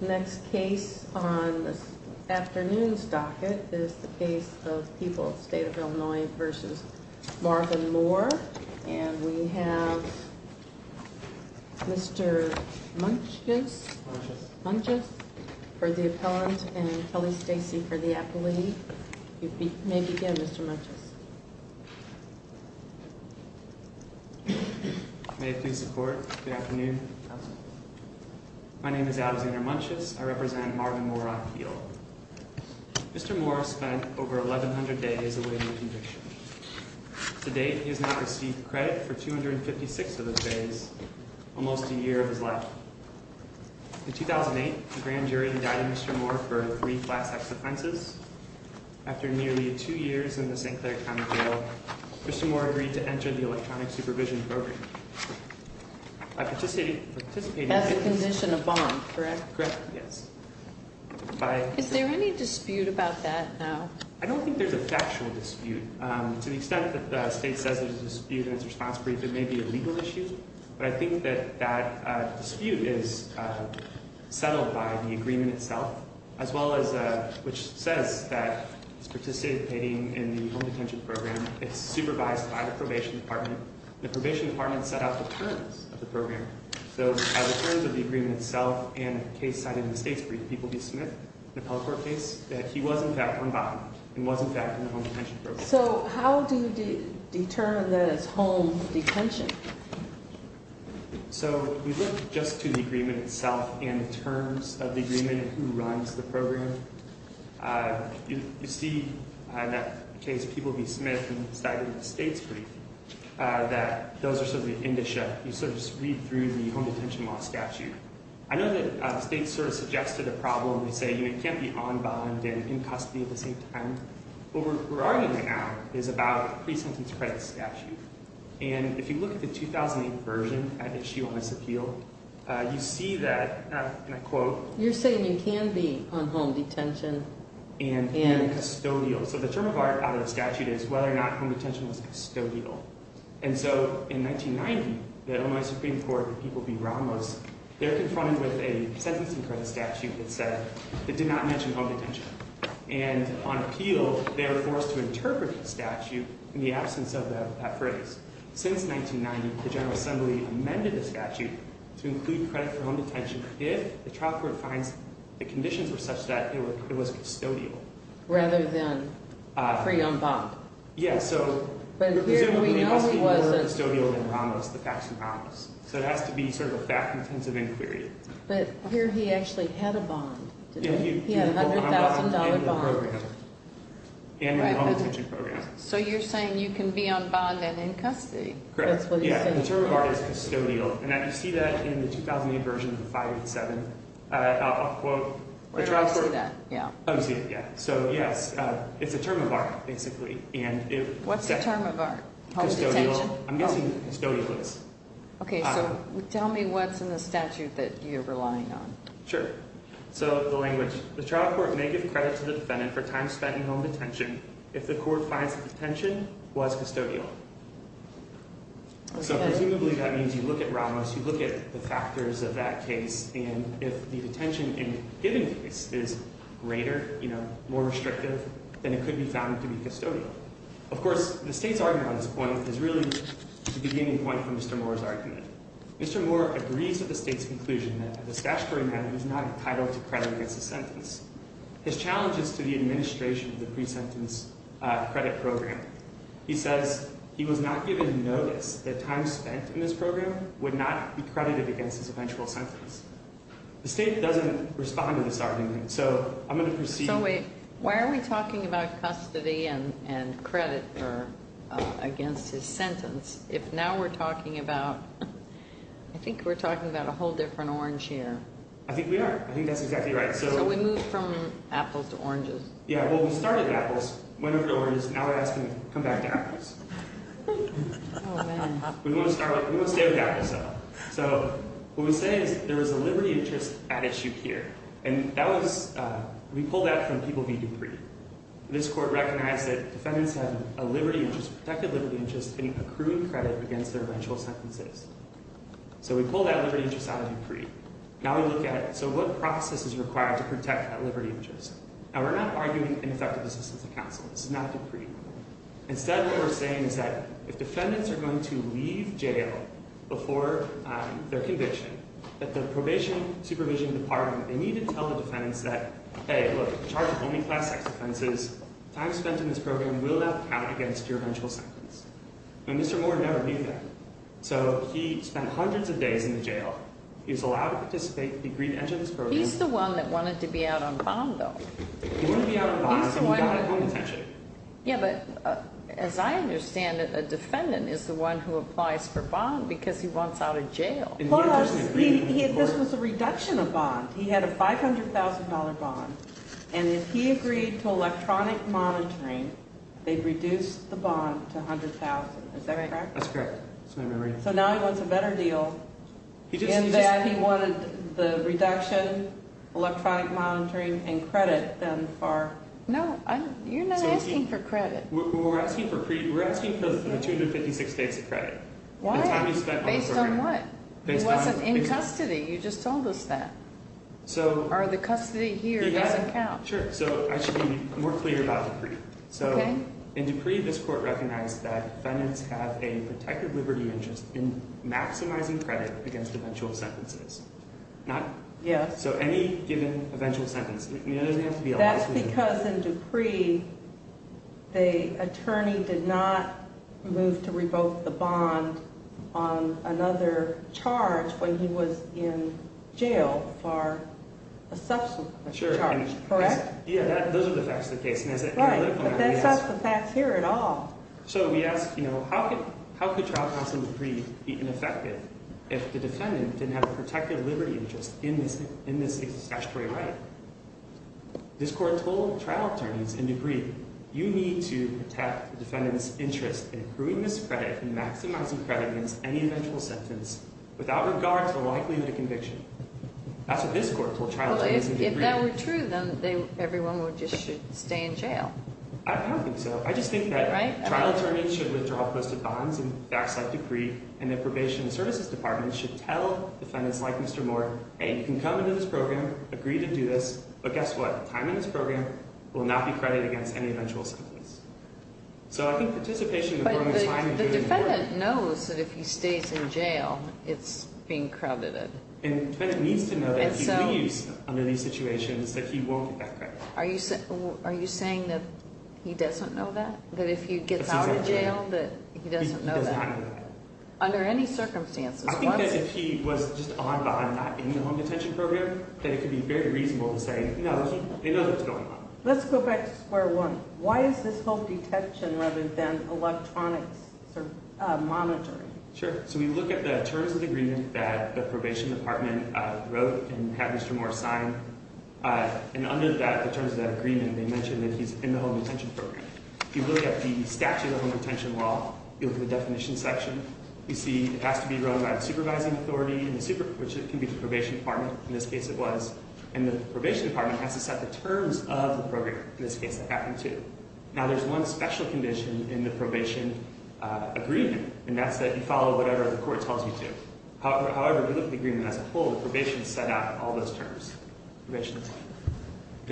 Next case on this afternoon's docket is the case of People, State of Illinois v. Marvin Moore, and we have Mr. Munches for the appellant and Kelly Stacey for the appellate. You may begin, Mr. Munches. My name is Alexander Munches. I represent Marvin Moore on appeal. Mr. Moore spent over 1,100 days awaiting conviction. To date, he has not received credit for 256 of those days, almost a year of his life. In 2008, the grand jury indicted Mr. Moore for three class X offenses. After nearly two years in the St. Clair County Jail, Mr. Moore agreed to enter the electronic supervision program. As a condition of bond, correct? Correct, yes. Is there any dispute about that now? I don't think there's a factual dispute. To the extent that the state says there's a dispute and it's a response brief, it may be a legal issue, but I think that that dispute is settled by the agreement itself, as well as, which says that he's participating in the home detention program. It's supervised by the probation department. The probation department set out the terms of the program. So, by the terms of the agreement itself and the case cited in the state's brief, the People v. Smith, the Appellate Court case, that he was in fact on bond and was in fact in the home detention program. So, how do you determine that it's home detention? So, we look just to the agreement itself and the terms of the agreement and who runs the program. You see in that case, People v. Smith and cited in the state's brief, that those are sort of the indicia. You sort of just read through the home detention law statute. I know that the state sort of suggested a problem. They say you can't be on bond and in custody at the same time. What we're arguing right now is about a pre-sentence credit statute. And if you look at the 2008 version at issue on this appeal, you see that, and I quote, You're saying you can be on home detention and custodial. So, the term of the statute is whether or not home detention was custodial. And so, in 1990, the Illinois Supreme Court, the People v. Ramos, they're confronted with a sentencing credit statute that said, that did not mention home detention. And on appeal, they were forced to interpret the statute in the absence of that phrase. Since 1990, the General Assembly amended the statute to include credit for home detention if the trial court finds the conditions were such that it was custodial. Rather than free on bond. Yeah. So, presumably, it must be more custodial than Ramos, the facts in Ramos. So, it has to be sort of a fact-intensive inquiry. But here, he actually had a bond, didn't he? He had a $100,000 bond. And a home detention program. So, you're saying you can be on bond and in custody. Correct. That's what you're saying. Yeah. The term of art is custodial. And you see that in the 2008 version of the 587. I'll quote the trial court. Where do I see that? Yeah. Oh, you see it. Yeah. So, yes, it's a term of art, basically. What's the term of art? Custodial. Home detention? I'm guessing custodial is. Okay. So, tell me what's in the statute that you're relying on. Sure. So, the language. The trial court may give credit to the defendant for time spent in home detention if the court finds the detention was custodial. So, presumably, that means you look at Ramos. You look at the factors of that case. And if the detention in a given case is greater, you know, more restrictive, then it could be found to be custodial. Of course, the state's argument on this point is really the beginning point for Mr. Moore's argument. Mr. Moore agrees with the state's conclusion that this statutory matter is not entitled to credit against the sentence. His challenge is to the administration of the pre-sentence credit program. He says he was not given notice that time spent in this program would not be credited against his eventual sentence. The state doesn't respond to this argument. So, I'm going to proceed. So, wait. Why are we talking about custody and credit against his sentence if now we're talking about, I think we're talking about a whole different orange here. I think we are. I think that's exactly right. So, we move from apples to oranges. Yeah. Well, we started with apples, went over to oranges, now we're asking them to come back to apples. Oh, man. We want to stay with apples, though. So, what we say is there was a liberty interest at issue here. And that was, we pulled that from People v. Dupree. This court recognized that defendants had a liberty interest, a protected liberty interest in accruing credit against their eventual sentences. So, we pulled that liberty interest out of Dupree. Now, we look at it. So, what process is required to protect that liberty interest? Now, we're not arguing ineffective assistance of counsel. This is not Dupree. Instead, what we're saying is that if defendants are going to leave jail before their conviction, that the probation supervision department, they need to tell the defendants that, hey, look, the charge of homing class sex offenses, time spent in this program will not count against your eventual sentence. Now, Mr. Moore never did that. So, he spent hundreds of days in the jail. He was allowed to participate. He agreed to enter this program. He's the one that wanted to be out on bond, though. He wanted to be out on bond. He got at home detention. Yeah, but as I understand it, a defendant is the one who applies for bond because he wants out of jail. Plus, this was a reduction of bond. He had a $500,000 bond, and if he agreed to electronic monitoring, they'd reduce the bond to $100,000. Is that right? That's correct. So, now he wants a better deal in that he wanted the reduction, electronic monitoring, and credit than for… No, you're not asking for credit. We're asking for the 256 days of credit. Why? Based on what? Based on… It wasn't in custody. You just told us that. So… Or the custody here doesn't count. Sure. So, I should be more clear about Dupree. Okay. So, in Dupree, this court recognized that defendants have a protected liberty interest in maximizing credit against eventual sentences. Yes. So, any given eventual sentence. That's because in Dupree, the attorney did not move to revoke the bond on another charge when he was in jail for a subsequent charge. Correct? Yeah, those are the facts of the case. Right. But that's not the facts here at all. So, we ask, you know, how could trial counsel in Dupree be ineffective if the defendant didn't have a protected liberty interest in this statutory right? This court told trial attorneys in Dupree, you need to protect the defendant's interest in proving this credit and maximizing credit against any eventual sentence without regard to the likelihood of conviction. That's what this court told trial attorneys in Dupree. Well, if that were true, then everyone would just stay in jail. I don't think so. I just think that trial attorneys should withdraw posted bonds in facts like Dupree and that probation and services departments should tell defendants like Mr. Moore, hey, you can come into this program, agree to do this, but guess what? Time in this program will not be credited against any eventual sentence. So, I think participation in the program is fine. But the defendant knows that if he stays in jail, it's being credited. And the defendant needs to know that if he leaves under these situations, that he won't get that credit. Are you saying that he doesn't know that? That if he gets out of jail, that he doesn't know that? He does not know that. Under any circumstances? I think that if he was just on bond, not in the home detention program, that it could be very reasonable to say, you know, they know what's going on. Let's go back to square one. Why is this home detection rather than electronics monitoring? Sure. So, we look at the terms of agreement that the probation department wrote and had Mr. Moore sign. And under that, the terms of that agreement, they mentioned that he's in the home detention program. If you look at the statute of home detention law, you look at the definition section, you see it has to be run by the supervising authority, which can be the probation department. In this case, it was. And the probation department has to set the terms of the program. In this case, it happened to. Now, there's one special condition in the probation agreement, and that's that you follow whatever the court tells you to. However, if you look at the agreement as a whole, the probation set out all those terms.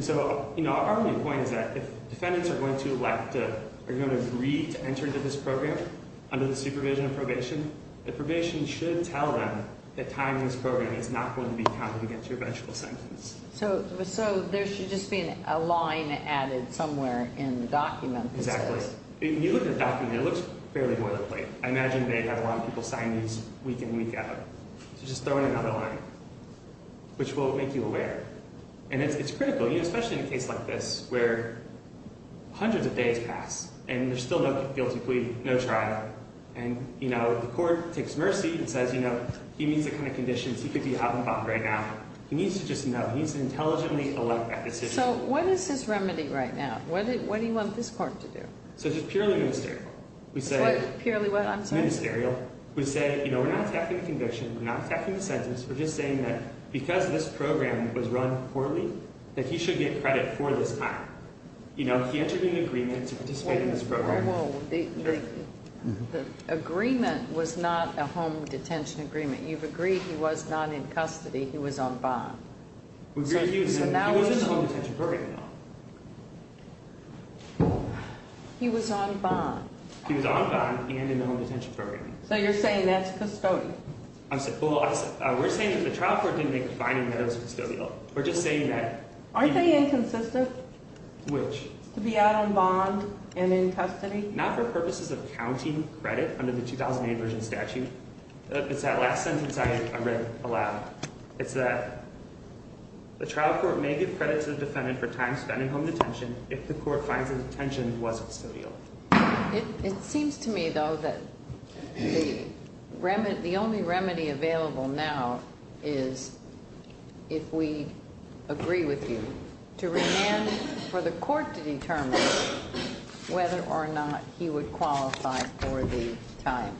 So, you know, our point is that if defendants are going to agree to enter into this program under the supervision of probation, the probation should tell them that time in this program is not going to be counted against your eventual sentence. So, there should just be a line added somewhere in the document. Exactly. If you look at the document, it looks fairly boilerplate. I imagine they have a lot of people sign these week in and week out. So, just throw in another line, which will make you aware. And it's critical, especially in a case like this, where hundreds of days pass, and there's still no guilty plea, no trial. And, you know, the court takes mercy and says, you know, he meets the kind of conditions he could be out and about right now. He needs to just know. He needs to intelligently elect that decision. So, what is his remedy right now? What does he want this court to do? So, just purely minister. Purely what? Ministerial. We say, you know, we're not attacking the conviction. We're not attacking the sentence. We're just saying that because this program was run poorly, that he should get credit for this time. You know, he entered into an agreement to participate in this program. Well, the agreement was not a home detention agreement. You've agreed he was not in custody. He was on bond. He was in the home detention program, though. He was on bond. He was on bond and in the home detention program. So, you're saying that's custodial? Well, we're saying that the trial court didn't make a finding that it was custodial. We're just saying that. Aren't they inconsistent? Which? To be out on bond and in custody? Not for purposes of counting credit under the 2008 version statute. It's that last sentence I read aloud. It's that the trial court may give credit to the defendant for time spent in home detention if the court finds that detention was custodial. It seems to me, though, that the only remedy available now is if we agree with you to remand for the court to determine whether or not he would qualify for the time.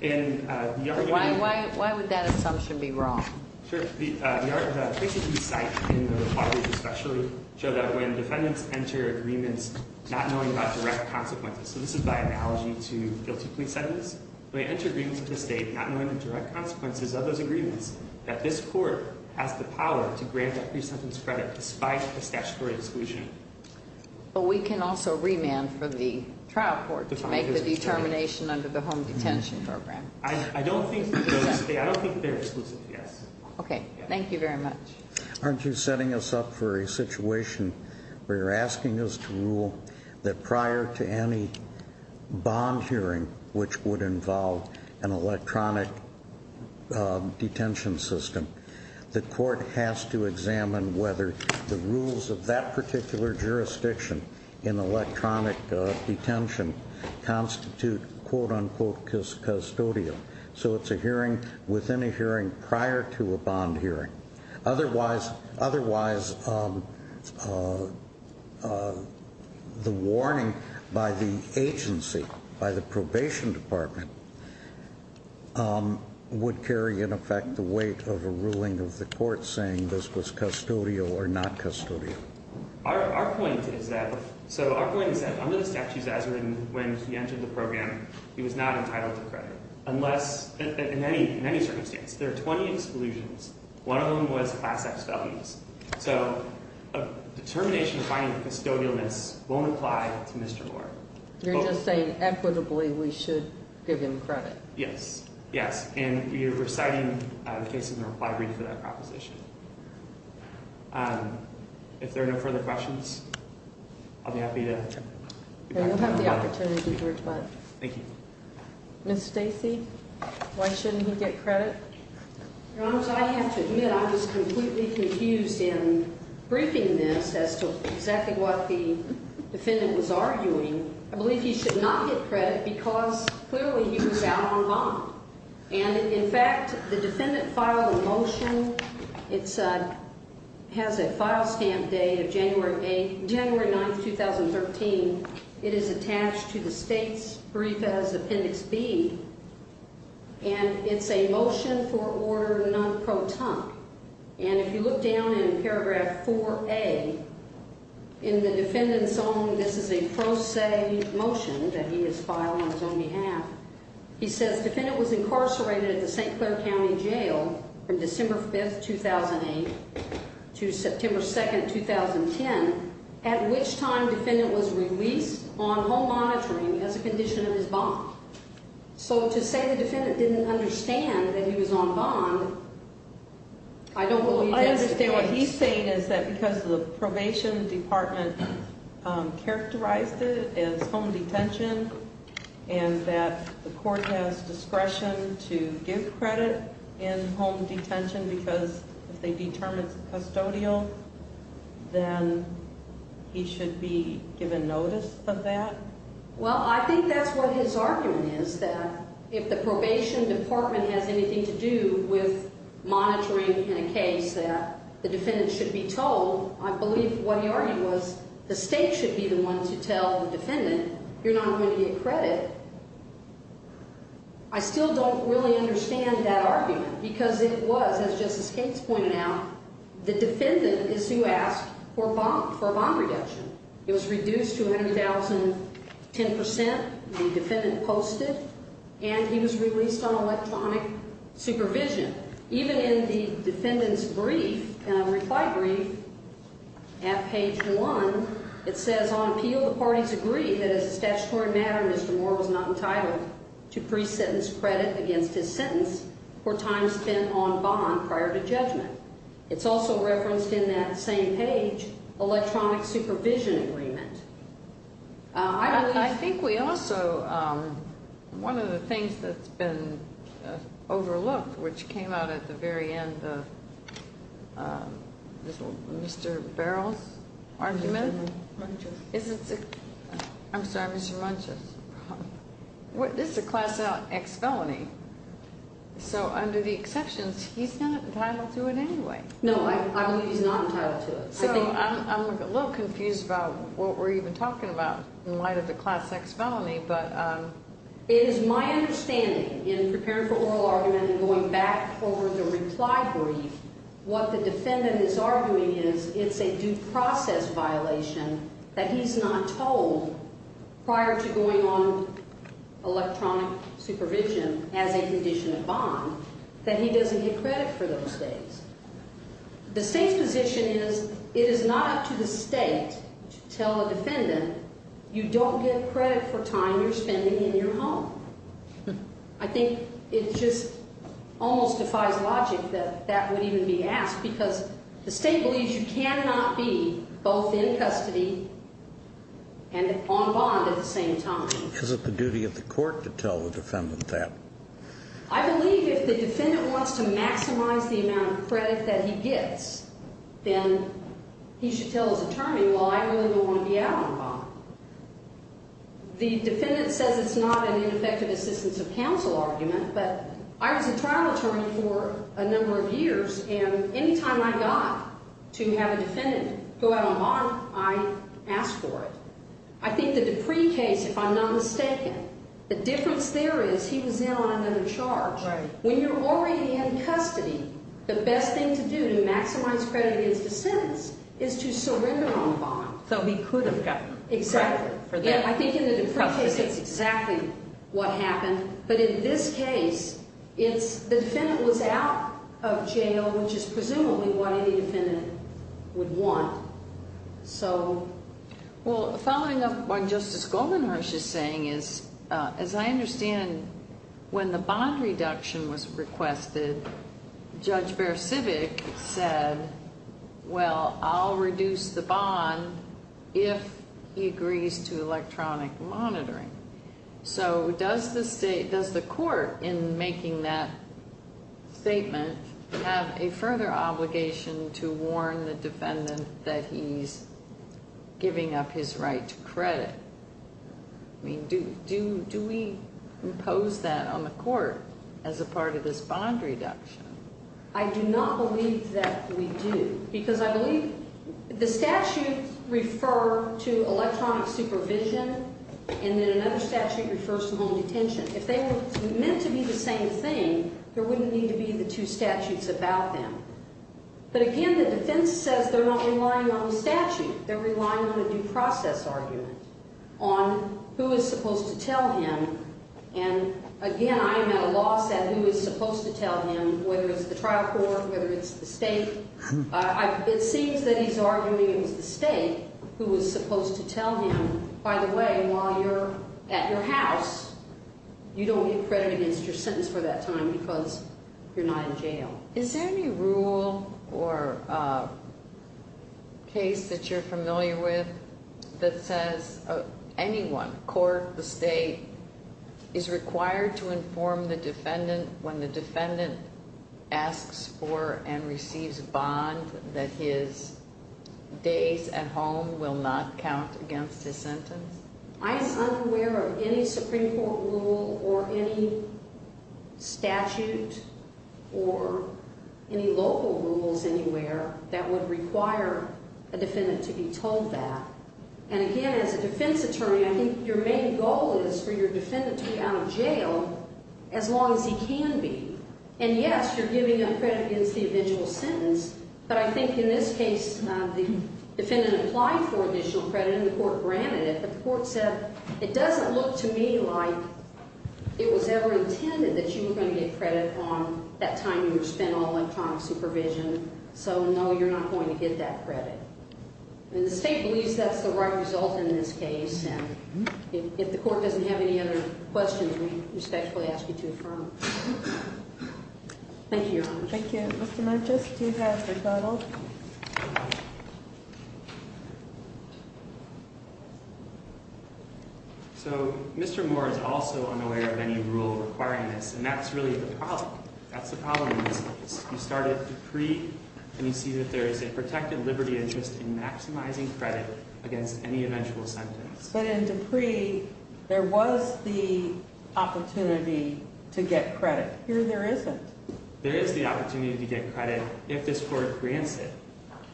Why would that assumption be wrong? Sure. The cases we cite in the requirements especially show that when defendants enter agreements not knowing about direct consequences, so this is by analogy to guilty plea sentences, when they enter agreements with the state not knowing the direct consequences of those agreements, that this court has the power to grant that pre-sentence credit despite the statutory exclusion. But we can also remand for the trial court to make the determination under the home detention program. I don't think they're exclusive, yes. Okay. Thank you very much. Aren't you setting us up for a situation where you're asking us to rule that prior to any bond hearing, which would involve an electronic detention system, the court has to examine whether the rules of that particular jurisdiction in electronic detention constitute, quote, unquote, custodial. So it's a hearing within a hearing prior to a bond hearing. Otherwise, the warning by the agency, by the probation department, would carry in effect the weight of a ruling of the court saying this was custodial or not custodial. Our point is that under the statutes as written when he entered the program, he was not entitled to credit. In any circumstance, there are 20 exclusions. One of them was class X felonies. So a determination of finding custodialness won't apply to Mr. Moore. You're just saying equitably we should give him credit? Yes, yes. And we are reciting the case in the reply brief for that proposition. If there are no further questions, I'll be happy to- You'll have the opportunity to respond. Thank you. Ms. Stacy, why shouldn't he get credit? Your Honor, I have to admit I was completely confused in briefing this as to exactly what the defendant was arguing. I believe he should not get credit because clearly he was out on bond. And, in fact, the defendant filed a motion. It has a file stamp date of January 9th, 2013. It is attached to the state's brief as Appendix B. And it's a motion for order non-proton. And if you look down in paragraph 4A, in the defendant's own, this is a pro se motion that he has filed on his own behalf. He says defendant was incarcerated at the St. Clair County Jail from December 5th, 2008 to September 2nd, 2010, at which time defendant was released on home monitoring as a condition of his bond. So to say the defendant didn't understand that he was on bond, I don't believe that's the case. Is that because the probation department characterized it as home detention and that the court has discretion to give credit in home detention because if they determine it's custodial, then he should be given notice of that? Well, I think that's what his argument is, that if the probation department has anything to do with monitoring in a case that the defendant should be told, I believe what he argued was the state should be the one to tell the defendant you're not going to get credit. I still don't really understand that argument because it was, as Justice Gates pointed out, the defendant is to ask for a bond reduction. It was reduced to 100,010 percent, the defendant posted, and he was released on electronic supervision. Even in the defendant's brief, reply brief at page 1, it says on appeal the parties agree that as a statutory matter, Mr. Moore was not entitled to pre-sentence credit against his sentence or time spent on bond prior to judgment. It's also referenced in that same page, electronic supervision agreement. I think we also, one of the things that's been overlooked, which came out at the very end of Mr. Barrell's argument. Munches. I'm sorry, Mr. Munches. This is a class X felony. So under the exceptions, he's not entitled to it anyway. No, I believe he's not entitled to it. So I'm a little confused about what we're even talking about in light of the class X felony. It is my understanding in preparing for oral argument and going back over the reply brief, what the defendant is arguing is it's a due process violation that he's not told prior to going on electronic supervision as a condition of bond, that he doesn't get credit for those things. The state's position is it is not up to the state to tell a defendant you don't get credit for time you're spending in your home. I think it just almost defies logic that that would even be asked because the state believes you cannot be both in custody and on bond at the same time. Is it the duty of the court to tell the defendant that? I believe if the defendant wants to maximize the amount of credit that he gets, then he should tell his attorney, well, I really don't want to be out on bond. The defendant says it's not an ineffective assistance of counsel argument, but I was a trial attorney for a number of years, and any time I got to have a defendant go out on bond, I asked for it. I think the Dupree case, if I'm not mistaken, the difference there is he was in on another charge. When you're already in custody, the best thing to do to maximize credit against a sentence is to surrender on bond. So he could have gotten credit for that. Exactly. I think in the Dupree case, that's exactly what happened. But in this case, the defendant was out of jail, which is presumably what any defendant would want. So, well, following up on Justice Goldenhurst's saying is, as I understand, when the bond reduction was requested, Judge Beresivic said, well, I'll reduce the bond if he agrees to electronic monitoring. So does the court, in making that statement, have a further obligation to warn the defendant that he's giving up his right to credit? I mean, do we impose that on the court as a part of this bond reduction? I do not believe that we do. Because I believe the statute refer to electronic supervision, and then another statute refers to home detention. If they were meant to be the same thing, there wouldn't need to be the two statutes about them. But again, the defense says they're not relying on the statute. They're relying on a due process argument on who is supposed to tell him. And again, I am at a loss at who is supposed to tell him, whether it's the trial court, whether it's the state. It seems that he's arguing it was the state who was supposed to tell him, by the way, while you're at your house, you don't get credit against your sentence for that time because you're not in jail. Is there any rule or case that you're familiar with that says anyone, court, the state, is required to inform the defendant when the defendant asks for and receives a bond that his days at home will not count against his sentence? I am unaware of any Supreme Court rule or any statute or any local rules anywhere that would require a defendant to be told that. And again, as a defense attorney, I think your main goal is for your defendant to be out of jail as long as he can be. And yes, you're giving him credit against the eventual sentence, but I think in this case, the defendant applied for additional credit and the court granted it, but the court said, it doesn't look to me like it was ever intended that you were going to get credit on that time you were spent on electronic supervision, so no, you're not going to get that credit. And the state believes that's the right result in this case, and if the court doesn't have any other questions, we respectfully ask you to affirm. Thank you, Your Honor. Thank you, Mr. Murchis. Do you have a rebuttal? So, Mr. Moore is also unaware of any rule requiring this, and that's really the problem. That's the problem in this case. You start at Dupree, and you see that there is a protected liberty interest in maximizing credit against any eventual sentence. But in Dupree, there was the opportunity to get credit. Here, there isn't. There is the opportunity to get credit if this court grants it.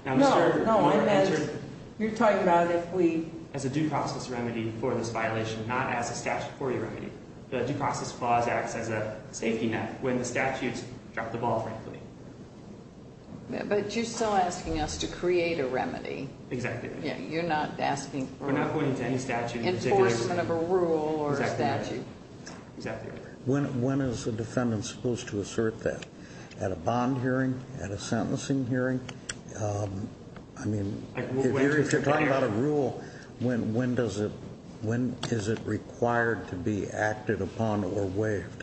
No, no. You're talking about if we, as a due process remedy for this violation, not as a statutory remedy. The due process clause acts as a safety net when the statutes drop the ball, frankly. But you're still asking us to create a remedy. Exactly. You're not asking for enforcement of a rule or a statute. Exactly. When is the defendant supposed to assert that? At a bond hearing? At a sentencing hearing? I mean, if you're talking about a rule, when is it required to be acted upon or waived?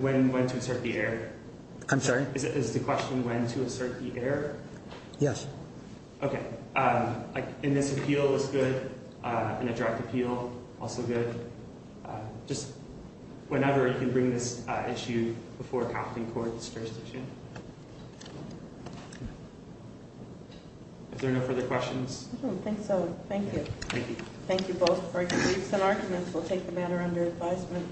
When to assert the error? I'm sorry? Is the question when to assert the error? Yes. Okay. And this appeal is good. And a direct appeal, also good. Just whenever you can bring this issue before a counseling court, the jurisdiction. Is there no further questions? I don't think so. Thank you. Thank you. Thank you both for your briefs and arguments. We'll take the matter under advisement.